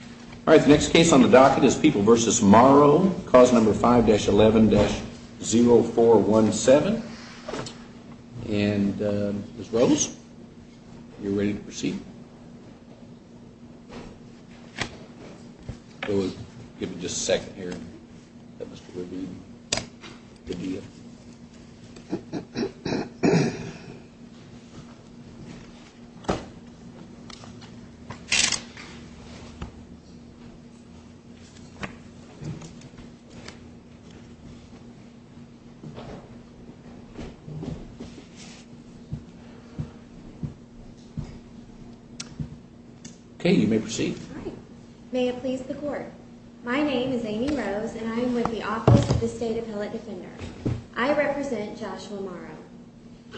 All right. The next case on the docket is People v. Morrow. Cause number 5-11-0417. And Ms. Rose, you're ready to proceed? I will give you just a second here. Okay. You may proceed. May it please the Court. My name is Amy Rose and I am with the Office of the State Appellate Defender. I represent Joshua Morrow.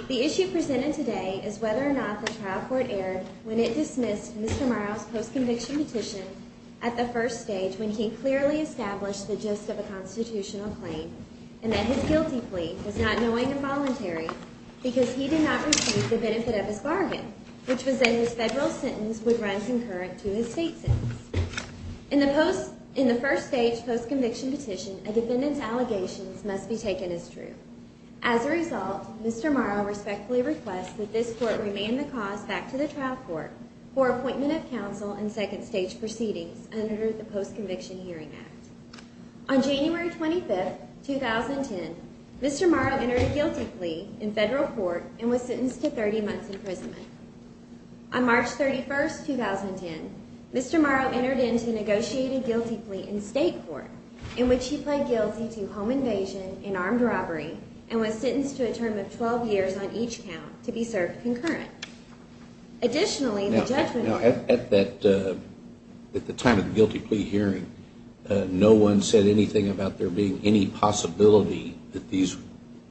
The issue presented today is whether or not the trial court erred when it dismissed Mr. Morrow's post-conviction petition at the first stage when he clearly established the gist of a constitutional claim and that his guilty plea was not knowing and voluntary because he did not receive the benefit of his bargain, which was that his federal sentence would run concurrent to his state sentence. In the first stage post-conviction petition, a defendant's allegations must be taken as true. As a result, Mr. Morrow respectfully requests that this Court remain the cause back to the trial court for appointment of counsel in second stage proceedings under the Post-Conviction Hearing Act. On January 25, 2010, Mr. Morrow entered a guilty plea in federal court and was sentenced to 30 months imprisonment. On March 31, 2010, Mr. Morrow entered into a negotiated guilty plea in state court in which he pled guilty to home invasion and armed robbery and was sentenced to a term of 12 years on each count to be served concurrent. Additionally, the judgment order… Now, at the time of the guilty plea hearing, no one said anything about there being any possibility that these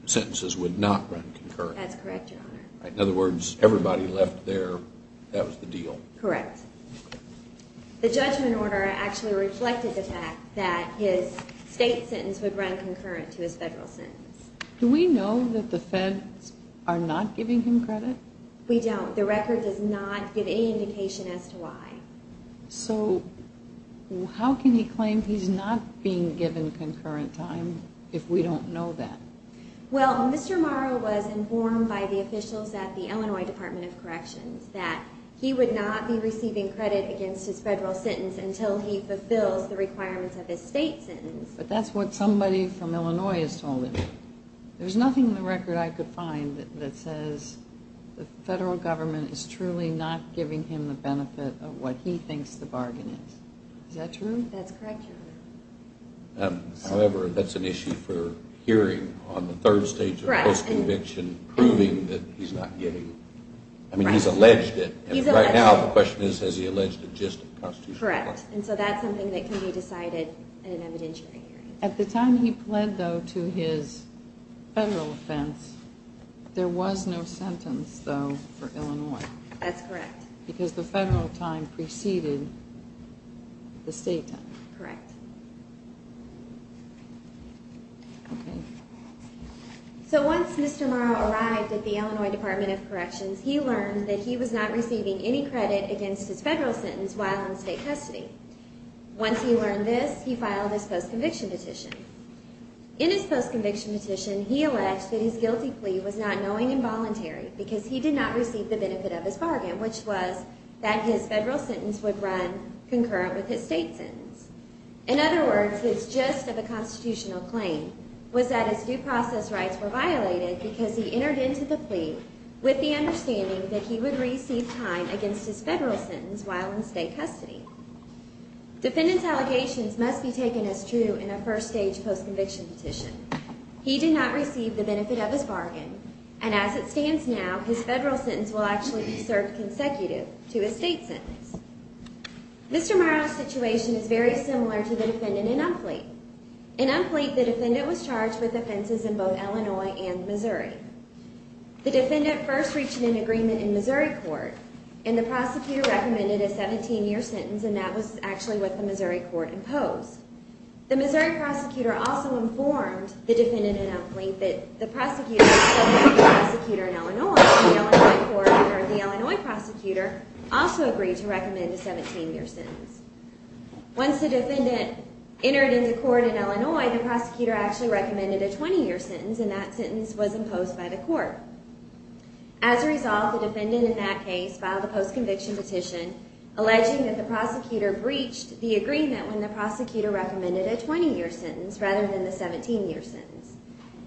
sentences would not run concurrent. That's correct, Your Honor. In other words, everybody left there, that was the deal. Correct. The judgment order actually reflected the fact that his state sentence would run concurrent to his federal sentence. Do we know that the feds are not giving him credit? We don't. The record does not give any indication as to why. So, how can he claim he's not being given concurrent time if we don't know that? Well, Mr. Morrow was informed by the officials at the Illinois Department of Corrections that he would not be receiving credit against his federal sentence until he fulfills the requirements of his state sentence. But that's what somebody from Illinois has told him. There's nothing in the record I could find that says the federal government is truly not giving him the benefit of what he thinks the bargain is. Is that true? That's correct, Your Honor. However, that's an issue for hearing on the third stage of post-conviction, proving that he's not getting… I mean, he's alleged it. He's alleged it. And right now, the question is, has he alleged it just at the Constitutional Court? Correct. And so that's something that can be decided at an evidentiary hearing. At the time he pled, though, to his federal offense, there was no sentence, though, for Illinois. That's correct. Because the federal time preceded the state time. Correct. So once Mr. Morrow arrived at the Illinois Department of Corrections, he learned that he was not receiving any credit against his federal sentence while in state custody. Once he learned this, he filed his post-conviction petition. In his post-conviction petition, he alleged that his guilty plea was not knowing and voluntary because he did not receive the benefit of his bargain, which was that his federal sentence would run concurrent with his state sentence. In other words, his gist of a constitutional claim was that his due process rights were violated because he entered into the plea with the understanding that he would receive time against his federal sentence while in state custody. Defendant's allegations must be taken as true in a first-stage post-conviction petition. He did not receive the benefit of his bargain, and as it stands now, his federal sentence will actually be served consecutive to his state sentence. Mr. Morrow's situation is very similar to the defendant in Umfleet. In Umfleet, the defendant was charged with offenses in both Illinois and Missouri. The defendant first reached an agreement in Missouri court, and the prosecutor recommended a 17-year sentence, and that was actually what the Missouri court imposed. The Missouri prosecutor also informed the defendant in Umfleet that the prosecutor in Illinois, the Illinois court, or the Illinois prosecutor, also agreed to recommend a 17-year sentence. Once the defendant entered into court in Illinois, the prosecutor actually recommended a 20-year sentence, and that sentence was imposed by the court. As a result, the defendant in that case filed a post-conviction petition alleging that the prosecutor breached the agreement when the prosecutor recommended a 20-year sentence rather than the 17-year sentence.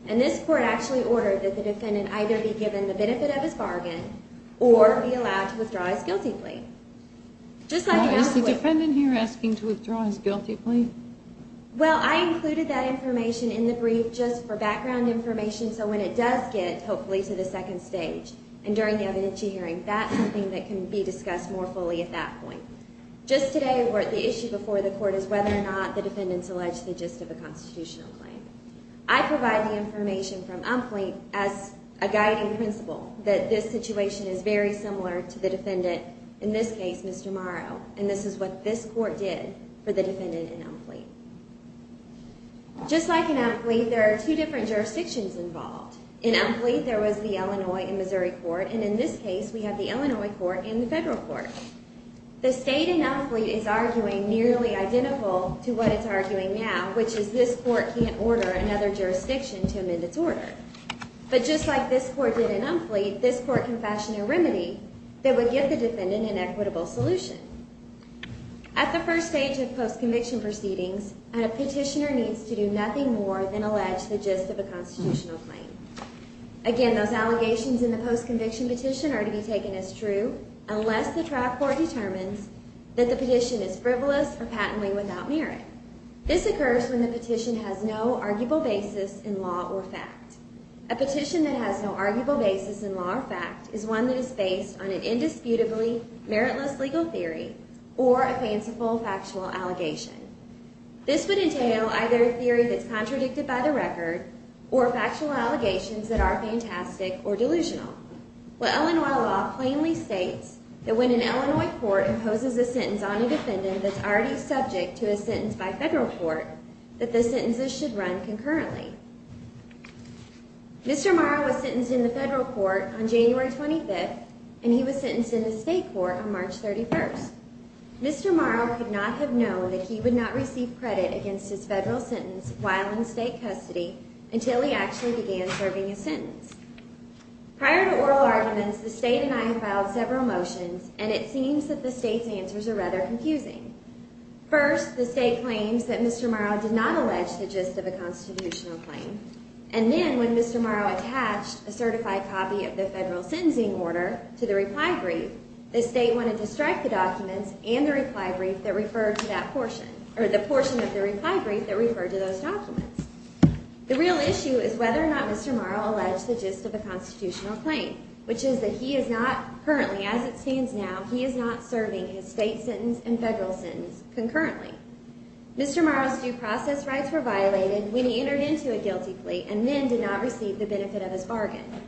And this court actually ordered that the defendant either be given the benefit of his bargain or be allowed to withdraw his guilty plea. Just like Umfleet. Is the defendant here asking to withdraw his guilty plea? Well, I included that information in the brief just for background information so when it does get, hopefully, to the second stage and during the evidentiary hearing, that's something that can be discussed more fully at that point. Just today, the issue before the court is whether or not the defendant's alleged the gist of a constitutional claim. I provide the information from Umfleet as a guiding principle that this situation is very similar to the defendant, in this case, Mr. Morrow, and this is what this court did for the defendant in Umfleet. Just like in Umfleet, there are two different jurisdictions involved. In Umfleet, there was the Illinois and Missouri court, and in this case, we have the Illinois court and the federal court. The state in Umfleet is arguing nearly identical to what it's arguing now, which is this court can't order another jurisdiction to amend its order. But just like this court did in Umfleet, this court can fashion a remedy that would get the defendant an equitable solution. At the first stage of post-conviction proceedings, a petitioner needs to do nothing more than allege the gist of a constitutional claim. Again, those allegations in the post-conviction petition are to be taken as true unless the trial court determines that the petition is frivolous or patently without merit. This occurs when the petition has no arguable basis in law or fact. A petition that has no arguable basis in law or fact is one that is based on an indisputably meritless legal theory or a fanciful factual allegation. This would entail either a theory that's contradicted by the record or factual allegations that are fantastic or delusional. Well, Illinois law plainly states that when an Illinois court imposes a sentence on a defendant that's already subject to a sentence by federal court, that the sentences should run concurrently. Mr. Morrow was sentenced in the federal court on January 25th, and he was sentenced in the state court on March 31st. Mr. Morrow could not have known that he would not receive credit against his federal sentence while in state custody until he actually began serving his sentence. Prior to oral arguments, the state and I have filed several motions, and it seems that the state's answers are rather confusing. First, the state claims that Mr. Morrow did not allege the gist of a constitutional claim. And then when Mr. Morrow attached a certified copy of the federal sentencing order to the reply brief, the state wanted to strike the documents and the reply brief that referred to that portion, or the portion of the reply brief that referred to those documents. The real issue is whether or not Mr. Morrow alleged the gist of a constitutional claim, which is that he is not currently, as it stands now, he is not serving his state sentence and federal sentence concurrently. Mr. Morrow's due process rights were violated when he entered into a guilty plea and then did not receive the benefit of his bargain.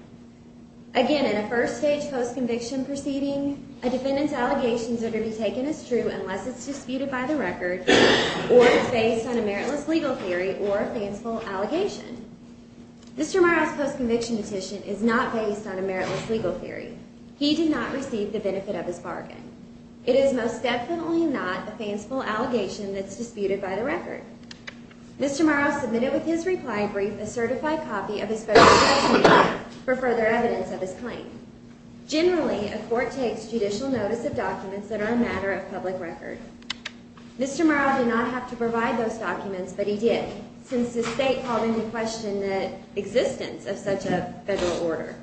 Again, in a first-stage post-conviction proceeding, a defendant's allegations are to be taken as true unless it's disputed by the record or it's based on a meritless legal theory or a fanciful allegation. Mr. Morrow's post-conviction petition is not based on a meritless legal theory. He did not receive the benefit of his bargain. It is most definitely not a fanciful allegation that's disputed by the record. Mr. Morrow submitted with his reply brief a certified copy of his federal sentencing order for further evidence of his claim. Generally, a court takes judicial notice of documents that are a matter of public record. Mr. Morrow did not have to provide those documents, but he did, since the state called into question the existence of such a federal order.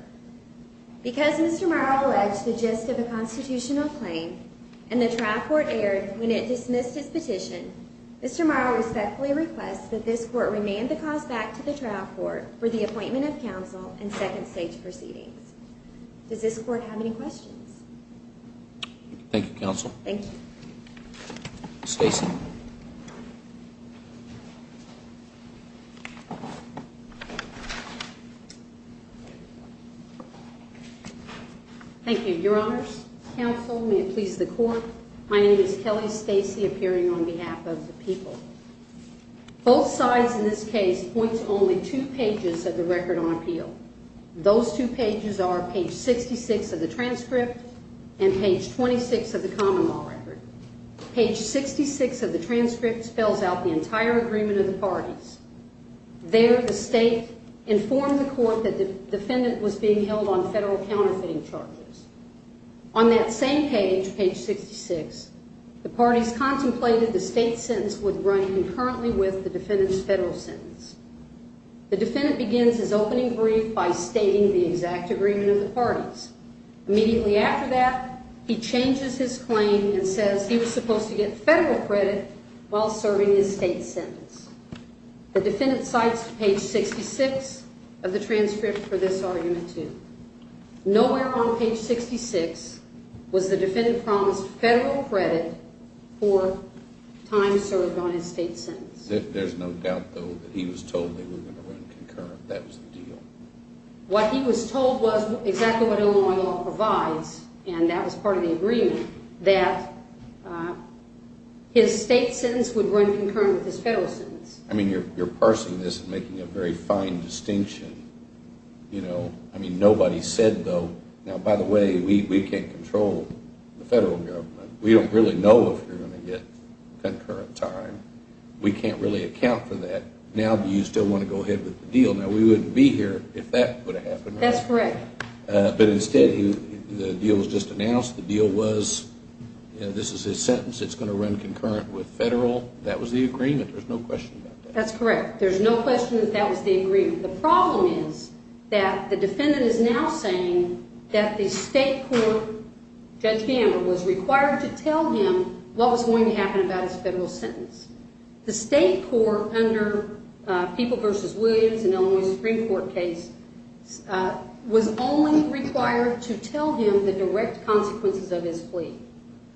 Because Mr. Morrow alleged the gist of a constitutional claim and the trial court erred when it dismissed his petition, Mr. Morrow respectfully requests that this court remand the cause back to the trial court for the appointment of counsel in second-stage proceedings. Does this court have any questions? Thank you, Counsel. Thank you. Stacy. Thank you. Your Honors, Counsel, may it please the Court, my name is Kelly Stacy, appearing on behalf of the people. Both sides in this case point to only two pages of the record on appeal. Those two pages are page 66 of the transcript and page 26 of the common law record. Page 66 of the transcript spells out the entire agreement of the parties. There, the state informed the court that the defendant was being held on federal counterfeiting charges. On that same page, page 66, the parties contemplated the state sentence would run concurrently with the defendant's federal sentence. The defendant begins his opening brief by stating the exact agreement of the parties. Immediately after that, he changes his claim and says he was supposed to get federal credit while serving his state sentence. The defendant cites page 66 of the transcript for this argument, too. Nowhere on page 66 was the defendant promised federal credit for time served on his state sentence. There's no doubt, though, that he was told they were going to run concurrent. That was the deal. What he was told was exactly what Illinois law provides, and that was part of the agreement, that his state sentence would run concurrent with his federal sentence. I mean, you're parsing this and making a very fine distinction. You know, I mean, nobody said, though, now, by the way, we can't control the federal government. We don't really know if you're going to get concurrent time. We can't really account for that. Now, do you still want to go ahead with the deal? Now, we wouldn't be here if that would have happened. That's correct. But instead, the deal was just announced. The deal was, you know, this is his sentence. It's going to run concurrent with federal. That was the agreement. There's no question about that. That's correct. There's no question that that was the agreement. The problem is that the defendant is now saying that the state court, Judge Gamble, was required to tell him what was going to happen about his federal sentence. The state court under People v. Williams in Illinois Supreme Court case was only required to tell him the direct consequences of his plea.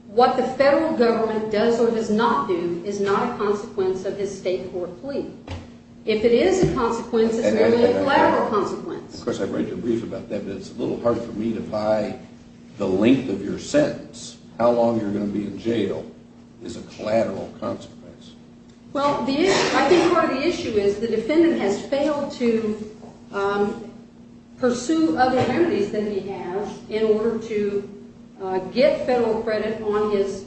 What the federal government does or does not do is not a consequence of his state court plea. If it is a consequence, it's merely a collateral consequence. Of course, I've read your brief about that, but it's a little hard for me to buy the length of your sentence. How long you're going to be in jail is a collateral consequence. Well, I think part of the issue is the defendant has failed to pursue other remedies than he has in order to get federal credit on his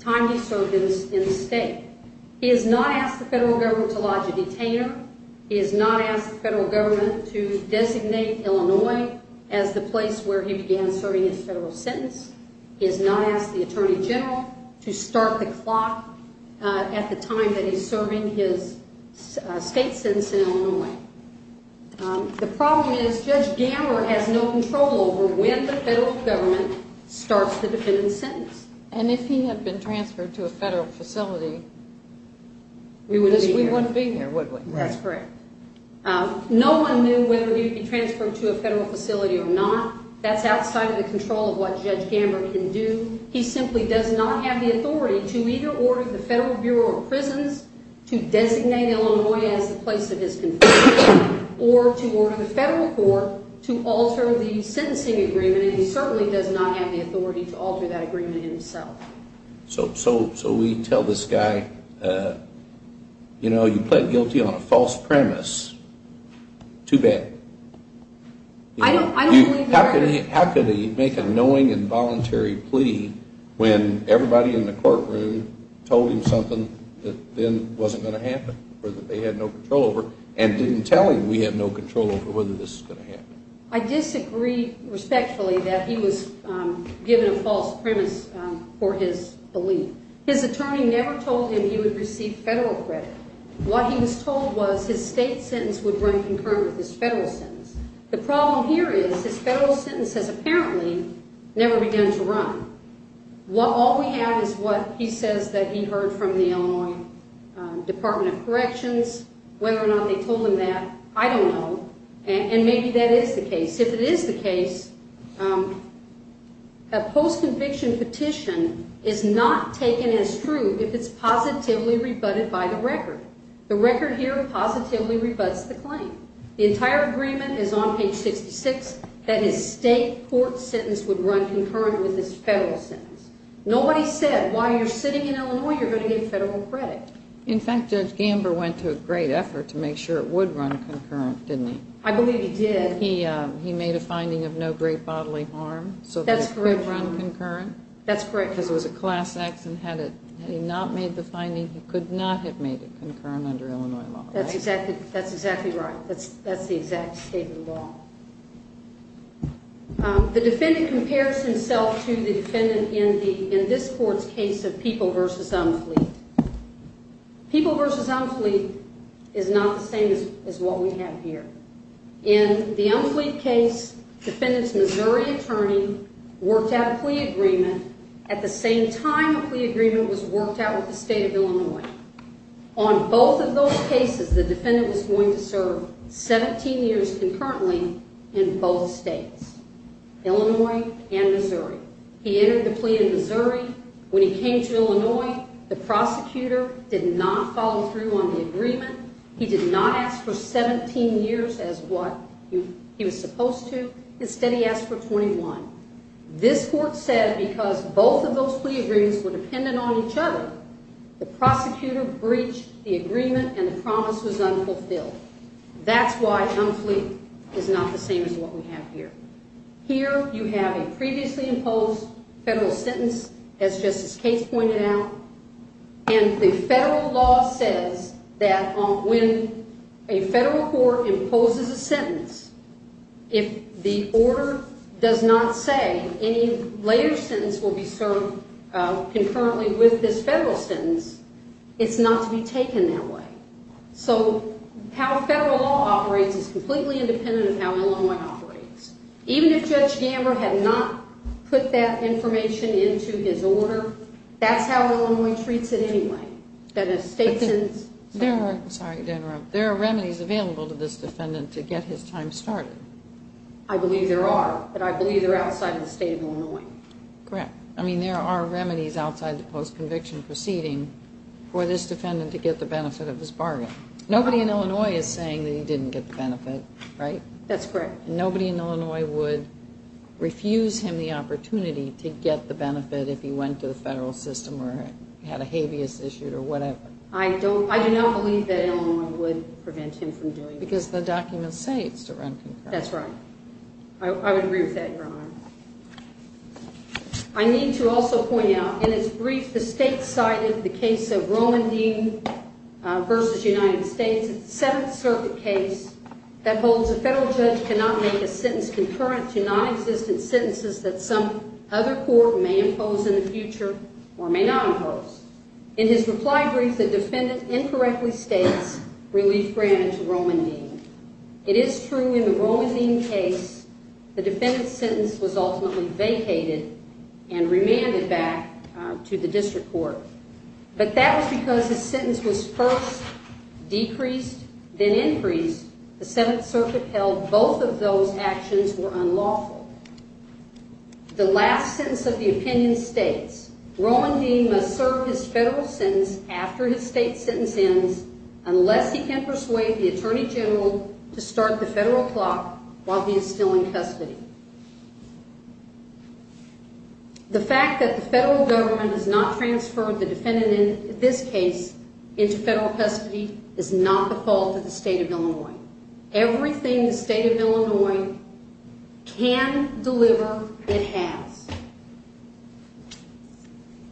time he served in the state. He has not asked the federal government to lodge a detainer. He has not asked the federal government to designate Illinois as the place where he began serving his federal sentence. He has not asked the attorney general to start the clock at the time that he's serving his state sentence in Illinois. The problem is Judge Gamble has no control over when the federal government starts the defendant's sentence. And if he had been transferred to a federal facility, we wouldn't be here, would we? That's correct. No one knew whether he would be transferred to a federal facility or not. That's outside of the control of what Judge Gamble can do. He simply does not have the authority to either order the Federal Bureau of Prisons to designate Illinois as the place of his conviction or to order the federal court to alter the sentencing agreement. And he certainly does not have the authority to alter that agreement himself. So we tell this guy, you know, you pled guilty on a false premise. Too bad. How could he make a knowing and voluntary plea when everybody in the courtroom told him something that then wasn't going to happen or that they had no control over and didn't tell him we had no control over whether this was going to happen? I disagree respectfully that he was given a false premise for his belief. His attorney never told him he would receive federal credit. What he was told was his state sentence would run concurrent with his federal sentence. The problem here is his federal sentence has apparently never begun to run. All we have is what he says that he heard from the Illinois Department of Corrections. Whether or not they told him that, I don't know. And maybe that is the case. If it is the case, a post-conviction petition is not taken as true if it's positively rebutted by the record. The record here positively rebuts the claim. The entire agreement is on page 66 that his state court sentence would run concurrent with his federal sentence. Nobody said while you're sitting in Illinois, you're going to get federal credit. In fact, Judge Gamber went to great effort to make sure it would run concurrent, didn't he? I believe he did. He made a finding of no great bodily harm. That's correct. So it would run concurrent? That's correct. Because it was a class action. Had he not made the finding, he could not have made it concurrent under Illinois law. That's exactly right. That's the exact state of the law. The defendant compares himself to the defendant in this court's case of People v. Umfleet. People v. Umfleet is not the same as what we have here. In the Umfleet case, defendant's Missouri attorney worked out a plea agreement. At the same time, a plea agreement was worked out with the state of Illinois. On both of those cases, the defendant was going to serve 17 years concurrently in both states, Illinois and Missouri. He entered the plea in Missouri. When he came to Illinois, the prosecutor did not follow through on the agreement. He did not ask for 17 years as what he was supposed to. Instead, he asked for 21. This court said because both of those plea agreements were dependent on each other, the prosecutor breached the agreement and the promise was unfulfilled. That's why Umfleet is not the same as what we have here. Here you have a previously imposed federal sentence, as Justice Case pointed out, and the federal law says that when a federal court imposes a sentence, if the order does not say any later sentence will be served concurrently with this federal sentence, it's not to be taken that way. So how federal law operates is completely independent of how Illinois operates. Even if Judge Gamber had not put that information into his order, that's how Illinois treats it anyway. Dennis Stetson's sentence. There are remedies available to this defendant to get his time started. I believe there are, but I believe they're outside of the state of Illinois. Correct. I mean, there are remedies outside the post-conviction proceeding for this defendant to get the benefit of his bargain. Nobody in Illinois is saying that he didn't get the benefit, right? That's correct. Nobody in Illinois would refuse him the opportunity to get the benefit if he went to the federal system or had a habeas issued or whatever. I do not believe that Illinois would prevent him from doing that. Because the documents say it's to run concurrently. That's right. I would agree with that, Your Honor. I need to also point out, in its brief, the state cited the case of Romandine v. United States. It's a Seventh Circuit case that holds a federal judge cannot make a sentence concurrent to nonexistent sentences that some other court may impose in the future or may not impose. In his reply brief, the defendant incorrectly states relief granted to Romandine. It is true in the Romandine case the defendant's sentence was ultimately vacated and remanded back to the district court. But that was because his sentence was first decreased, then increased. The Seventh Circuit held both of those actions were unlawful. The last sentence of the opinion states, Romandine must serve his federal sentence after his state sentence ends unless he can persuade the Attorney General to start the federal clock while he is still in custody. The fact that the federal government has not transferred the defendant in this case into federal custody is not the fault of the State of Illinois. Everything the State of Illinois can deliver, it has.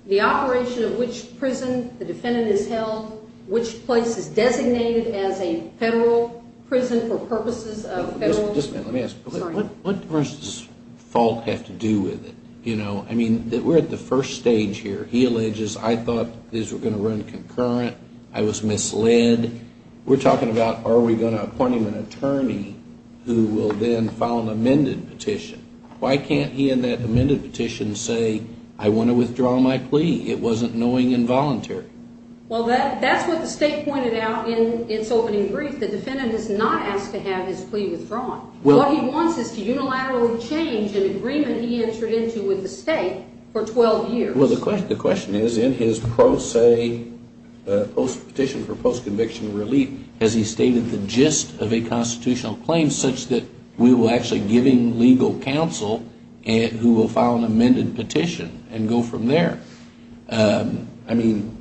The operation of which prison the defendant is held, which place is designated as a federal prison for purposes of federal... What does this fault have to do with it? I mean, we're at the first stage here. He alleges, I thought these were going to run concurrent. I was misled. We're talking about are we going to appoint him an attorney who will then file an amended petition? Why can't he in that amended petition say, I want to withdraw my plea? It wasn't knowing involuntary. Well, that's what the State pointed out in its opening brief. The defendant is not asked to have his plea withdrawn. What he wants is to unilaterally change an agreement he entered into with the state for 12 years. Well, the question is, in his pro se petition for post-conviction relief, has he stated the gist of a constitutional claim such that we will actually give him legal counsel who will file an amended petition and go from there? I mean,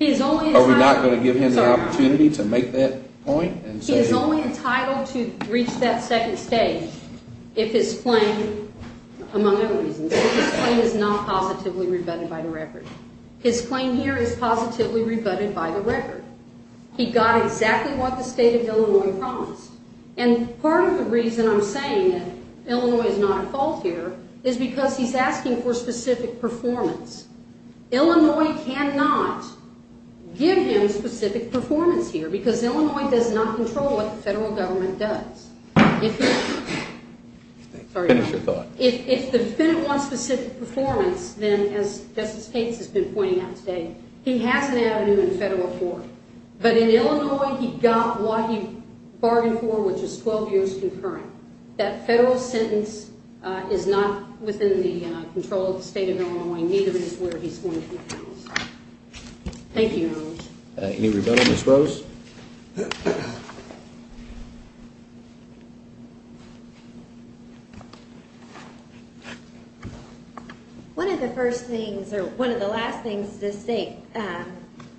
are we not going to give him the opportunity to make that point? He is only entitled to reach that second stage if his claim, among other reasons, if his claim is not positively rebutted by the record. His claim here is positively rebutted by the record. He got exactly what the State of Illinois promised. And part of the reason I'm saying that Illinois is not at fault here is because he's asking for specific performance. Illinois cannot give him specific performance here because Illinois does not control what the federal government does. If the defendant wants specific performance, then, as Justice Pates has been pointing out today, he has an avenue in federal court. But in Illinois, he got what he bargained for, which is 12 years concurrent. That federal sentence is not within the control of the State of Illinois, and neither is where he's going to be sentenced. Thank you, Your Honor. Any rebuttal, Ms. Rose? One of the first things, or one of the last things this State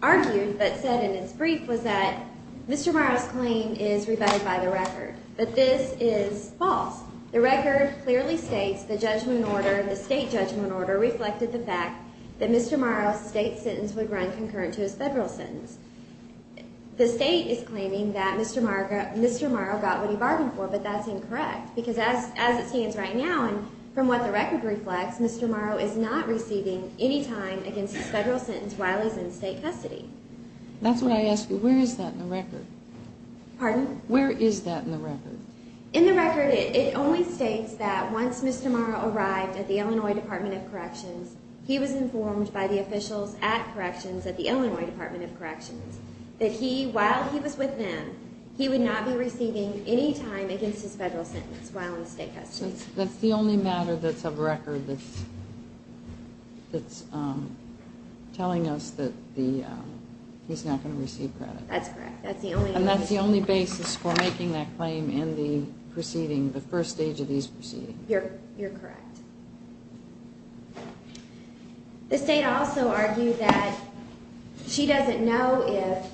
argued, but said in its brief, was that Mr. Murrow's claim is rebutted by the record. But this is false. The record clearly states the judgment order, the State judgment order, reflected the fact that Mr. Murrow's State sentence would run concurrent to his federal sentence. The State is claiming that Mr. Murrow got what he bargained for, but that's incorrect. Because as it stands right now, and from what the record reflects, Mr. Murrow is not receiving any time against his federal sentence while he's in State custody. That's what I asked you. Where is that in the record? Pardon? Where is that in the record? In the record, it only states that once Mr. Murrow arrived at the Illinois Department of Corrections, he was informed by the officials at Corrections, at the Illinois Department of Corrections, that he, while he was with them, he would not be receiving any time against his federal sentence while in State custody. That's the only matter that's of record that's telling us that he's not going to receive credit. That's correct. And that's the only basis for making that claim in the proceeding, the first stage of these proceedings. You're correct. The State also argued that she doesn't know if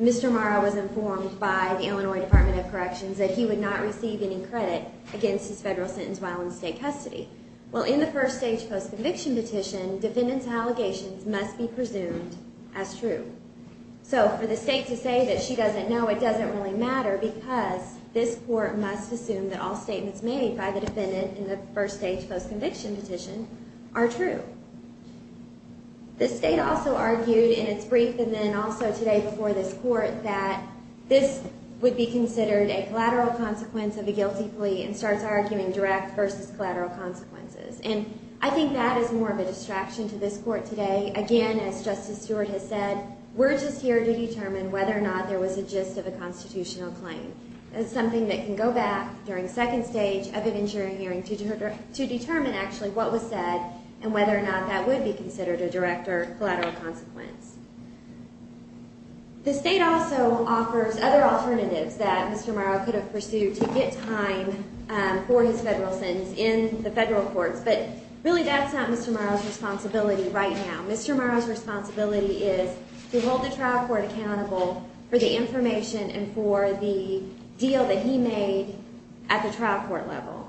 Mr. Murrow was informed by the Illinois Department of Corrections that he would not receive any credit against his federal sentence while in State custody. Well, in the first stage post-conviction petition, defendants' allegations must be presumed as true. So for the State to say that she doesn't know, it doesn't really matter because this Court must assume that all statements made by the defendant in the first stage post-conviction petition are true. The State also argued in its brief and then also today before this Court that this would be considered a collateral consequence of a guilty plea and starts arguing direct versus collateral consequences. And I think that is more of a distraction to this Court today. Again, as Justice Stewart has said, we're just here to determine whether or not there was a gist of a constitutional claim. That's something that can go back during second stage of an injury hearing to determine actually what was said and whether or not that would be considered a direct or collateral consequence. The State also offers other alternatives that Mr. Murrow could have pursued to get time for his federal sentence in the federal courts. But really, that's not Mr. Murrow's responsibility right now. Mr. Murrow's responsibility is to hold the trial court accountable for the information and for the deal that he made at the trial court level.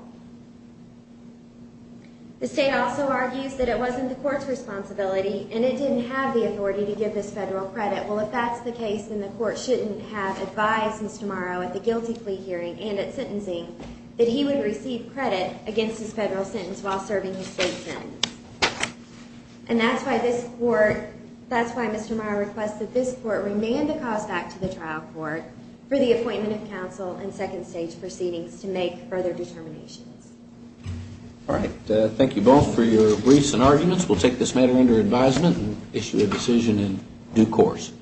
The State also argues that it wasn't the Court's responsibility and it didn't have the authority to give this federal credit. Well, if that's the case, then the Court shouldn't have advised Mr. Murrow at the guilty plea hearing and at sentencing that he would receive credit against his federal sentence while serving his State sentence. And that's why Mr. Murrow requests that this Court remand the cause back to the trial court for the appointment of counsel in second stage proceedings to make further determinations. All right. Thank you both for your briefs and arguments. We'll take this matter under advisement and issue a decision in due course.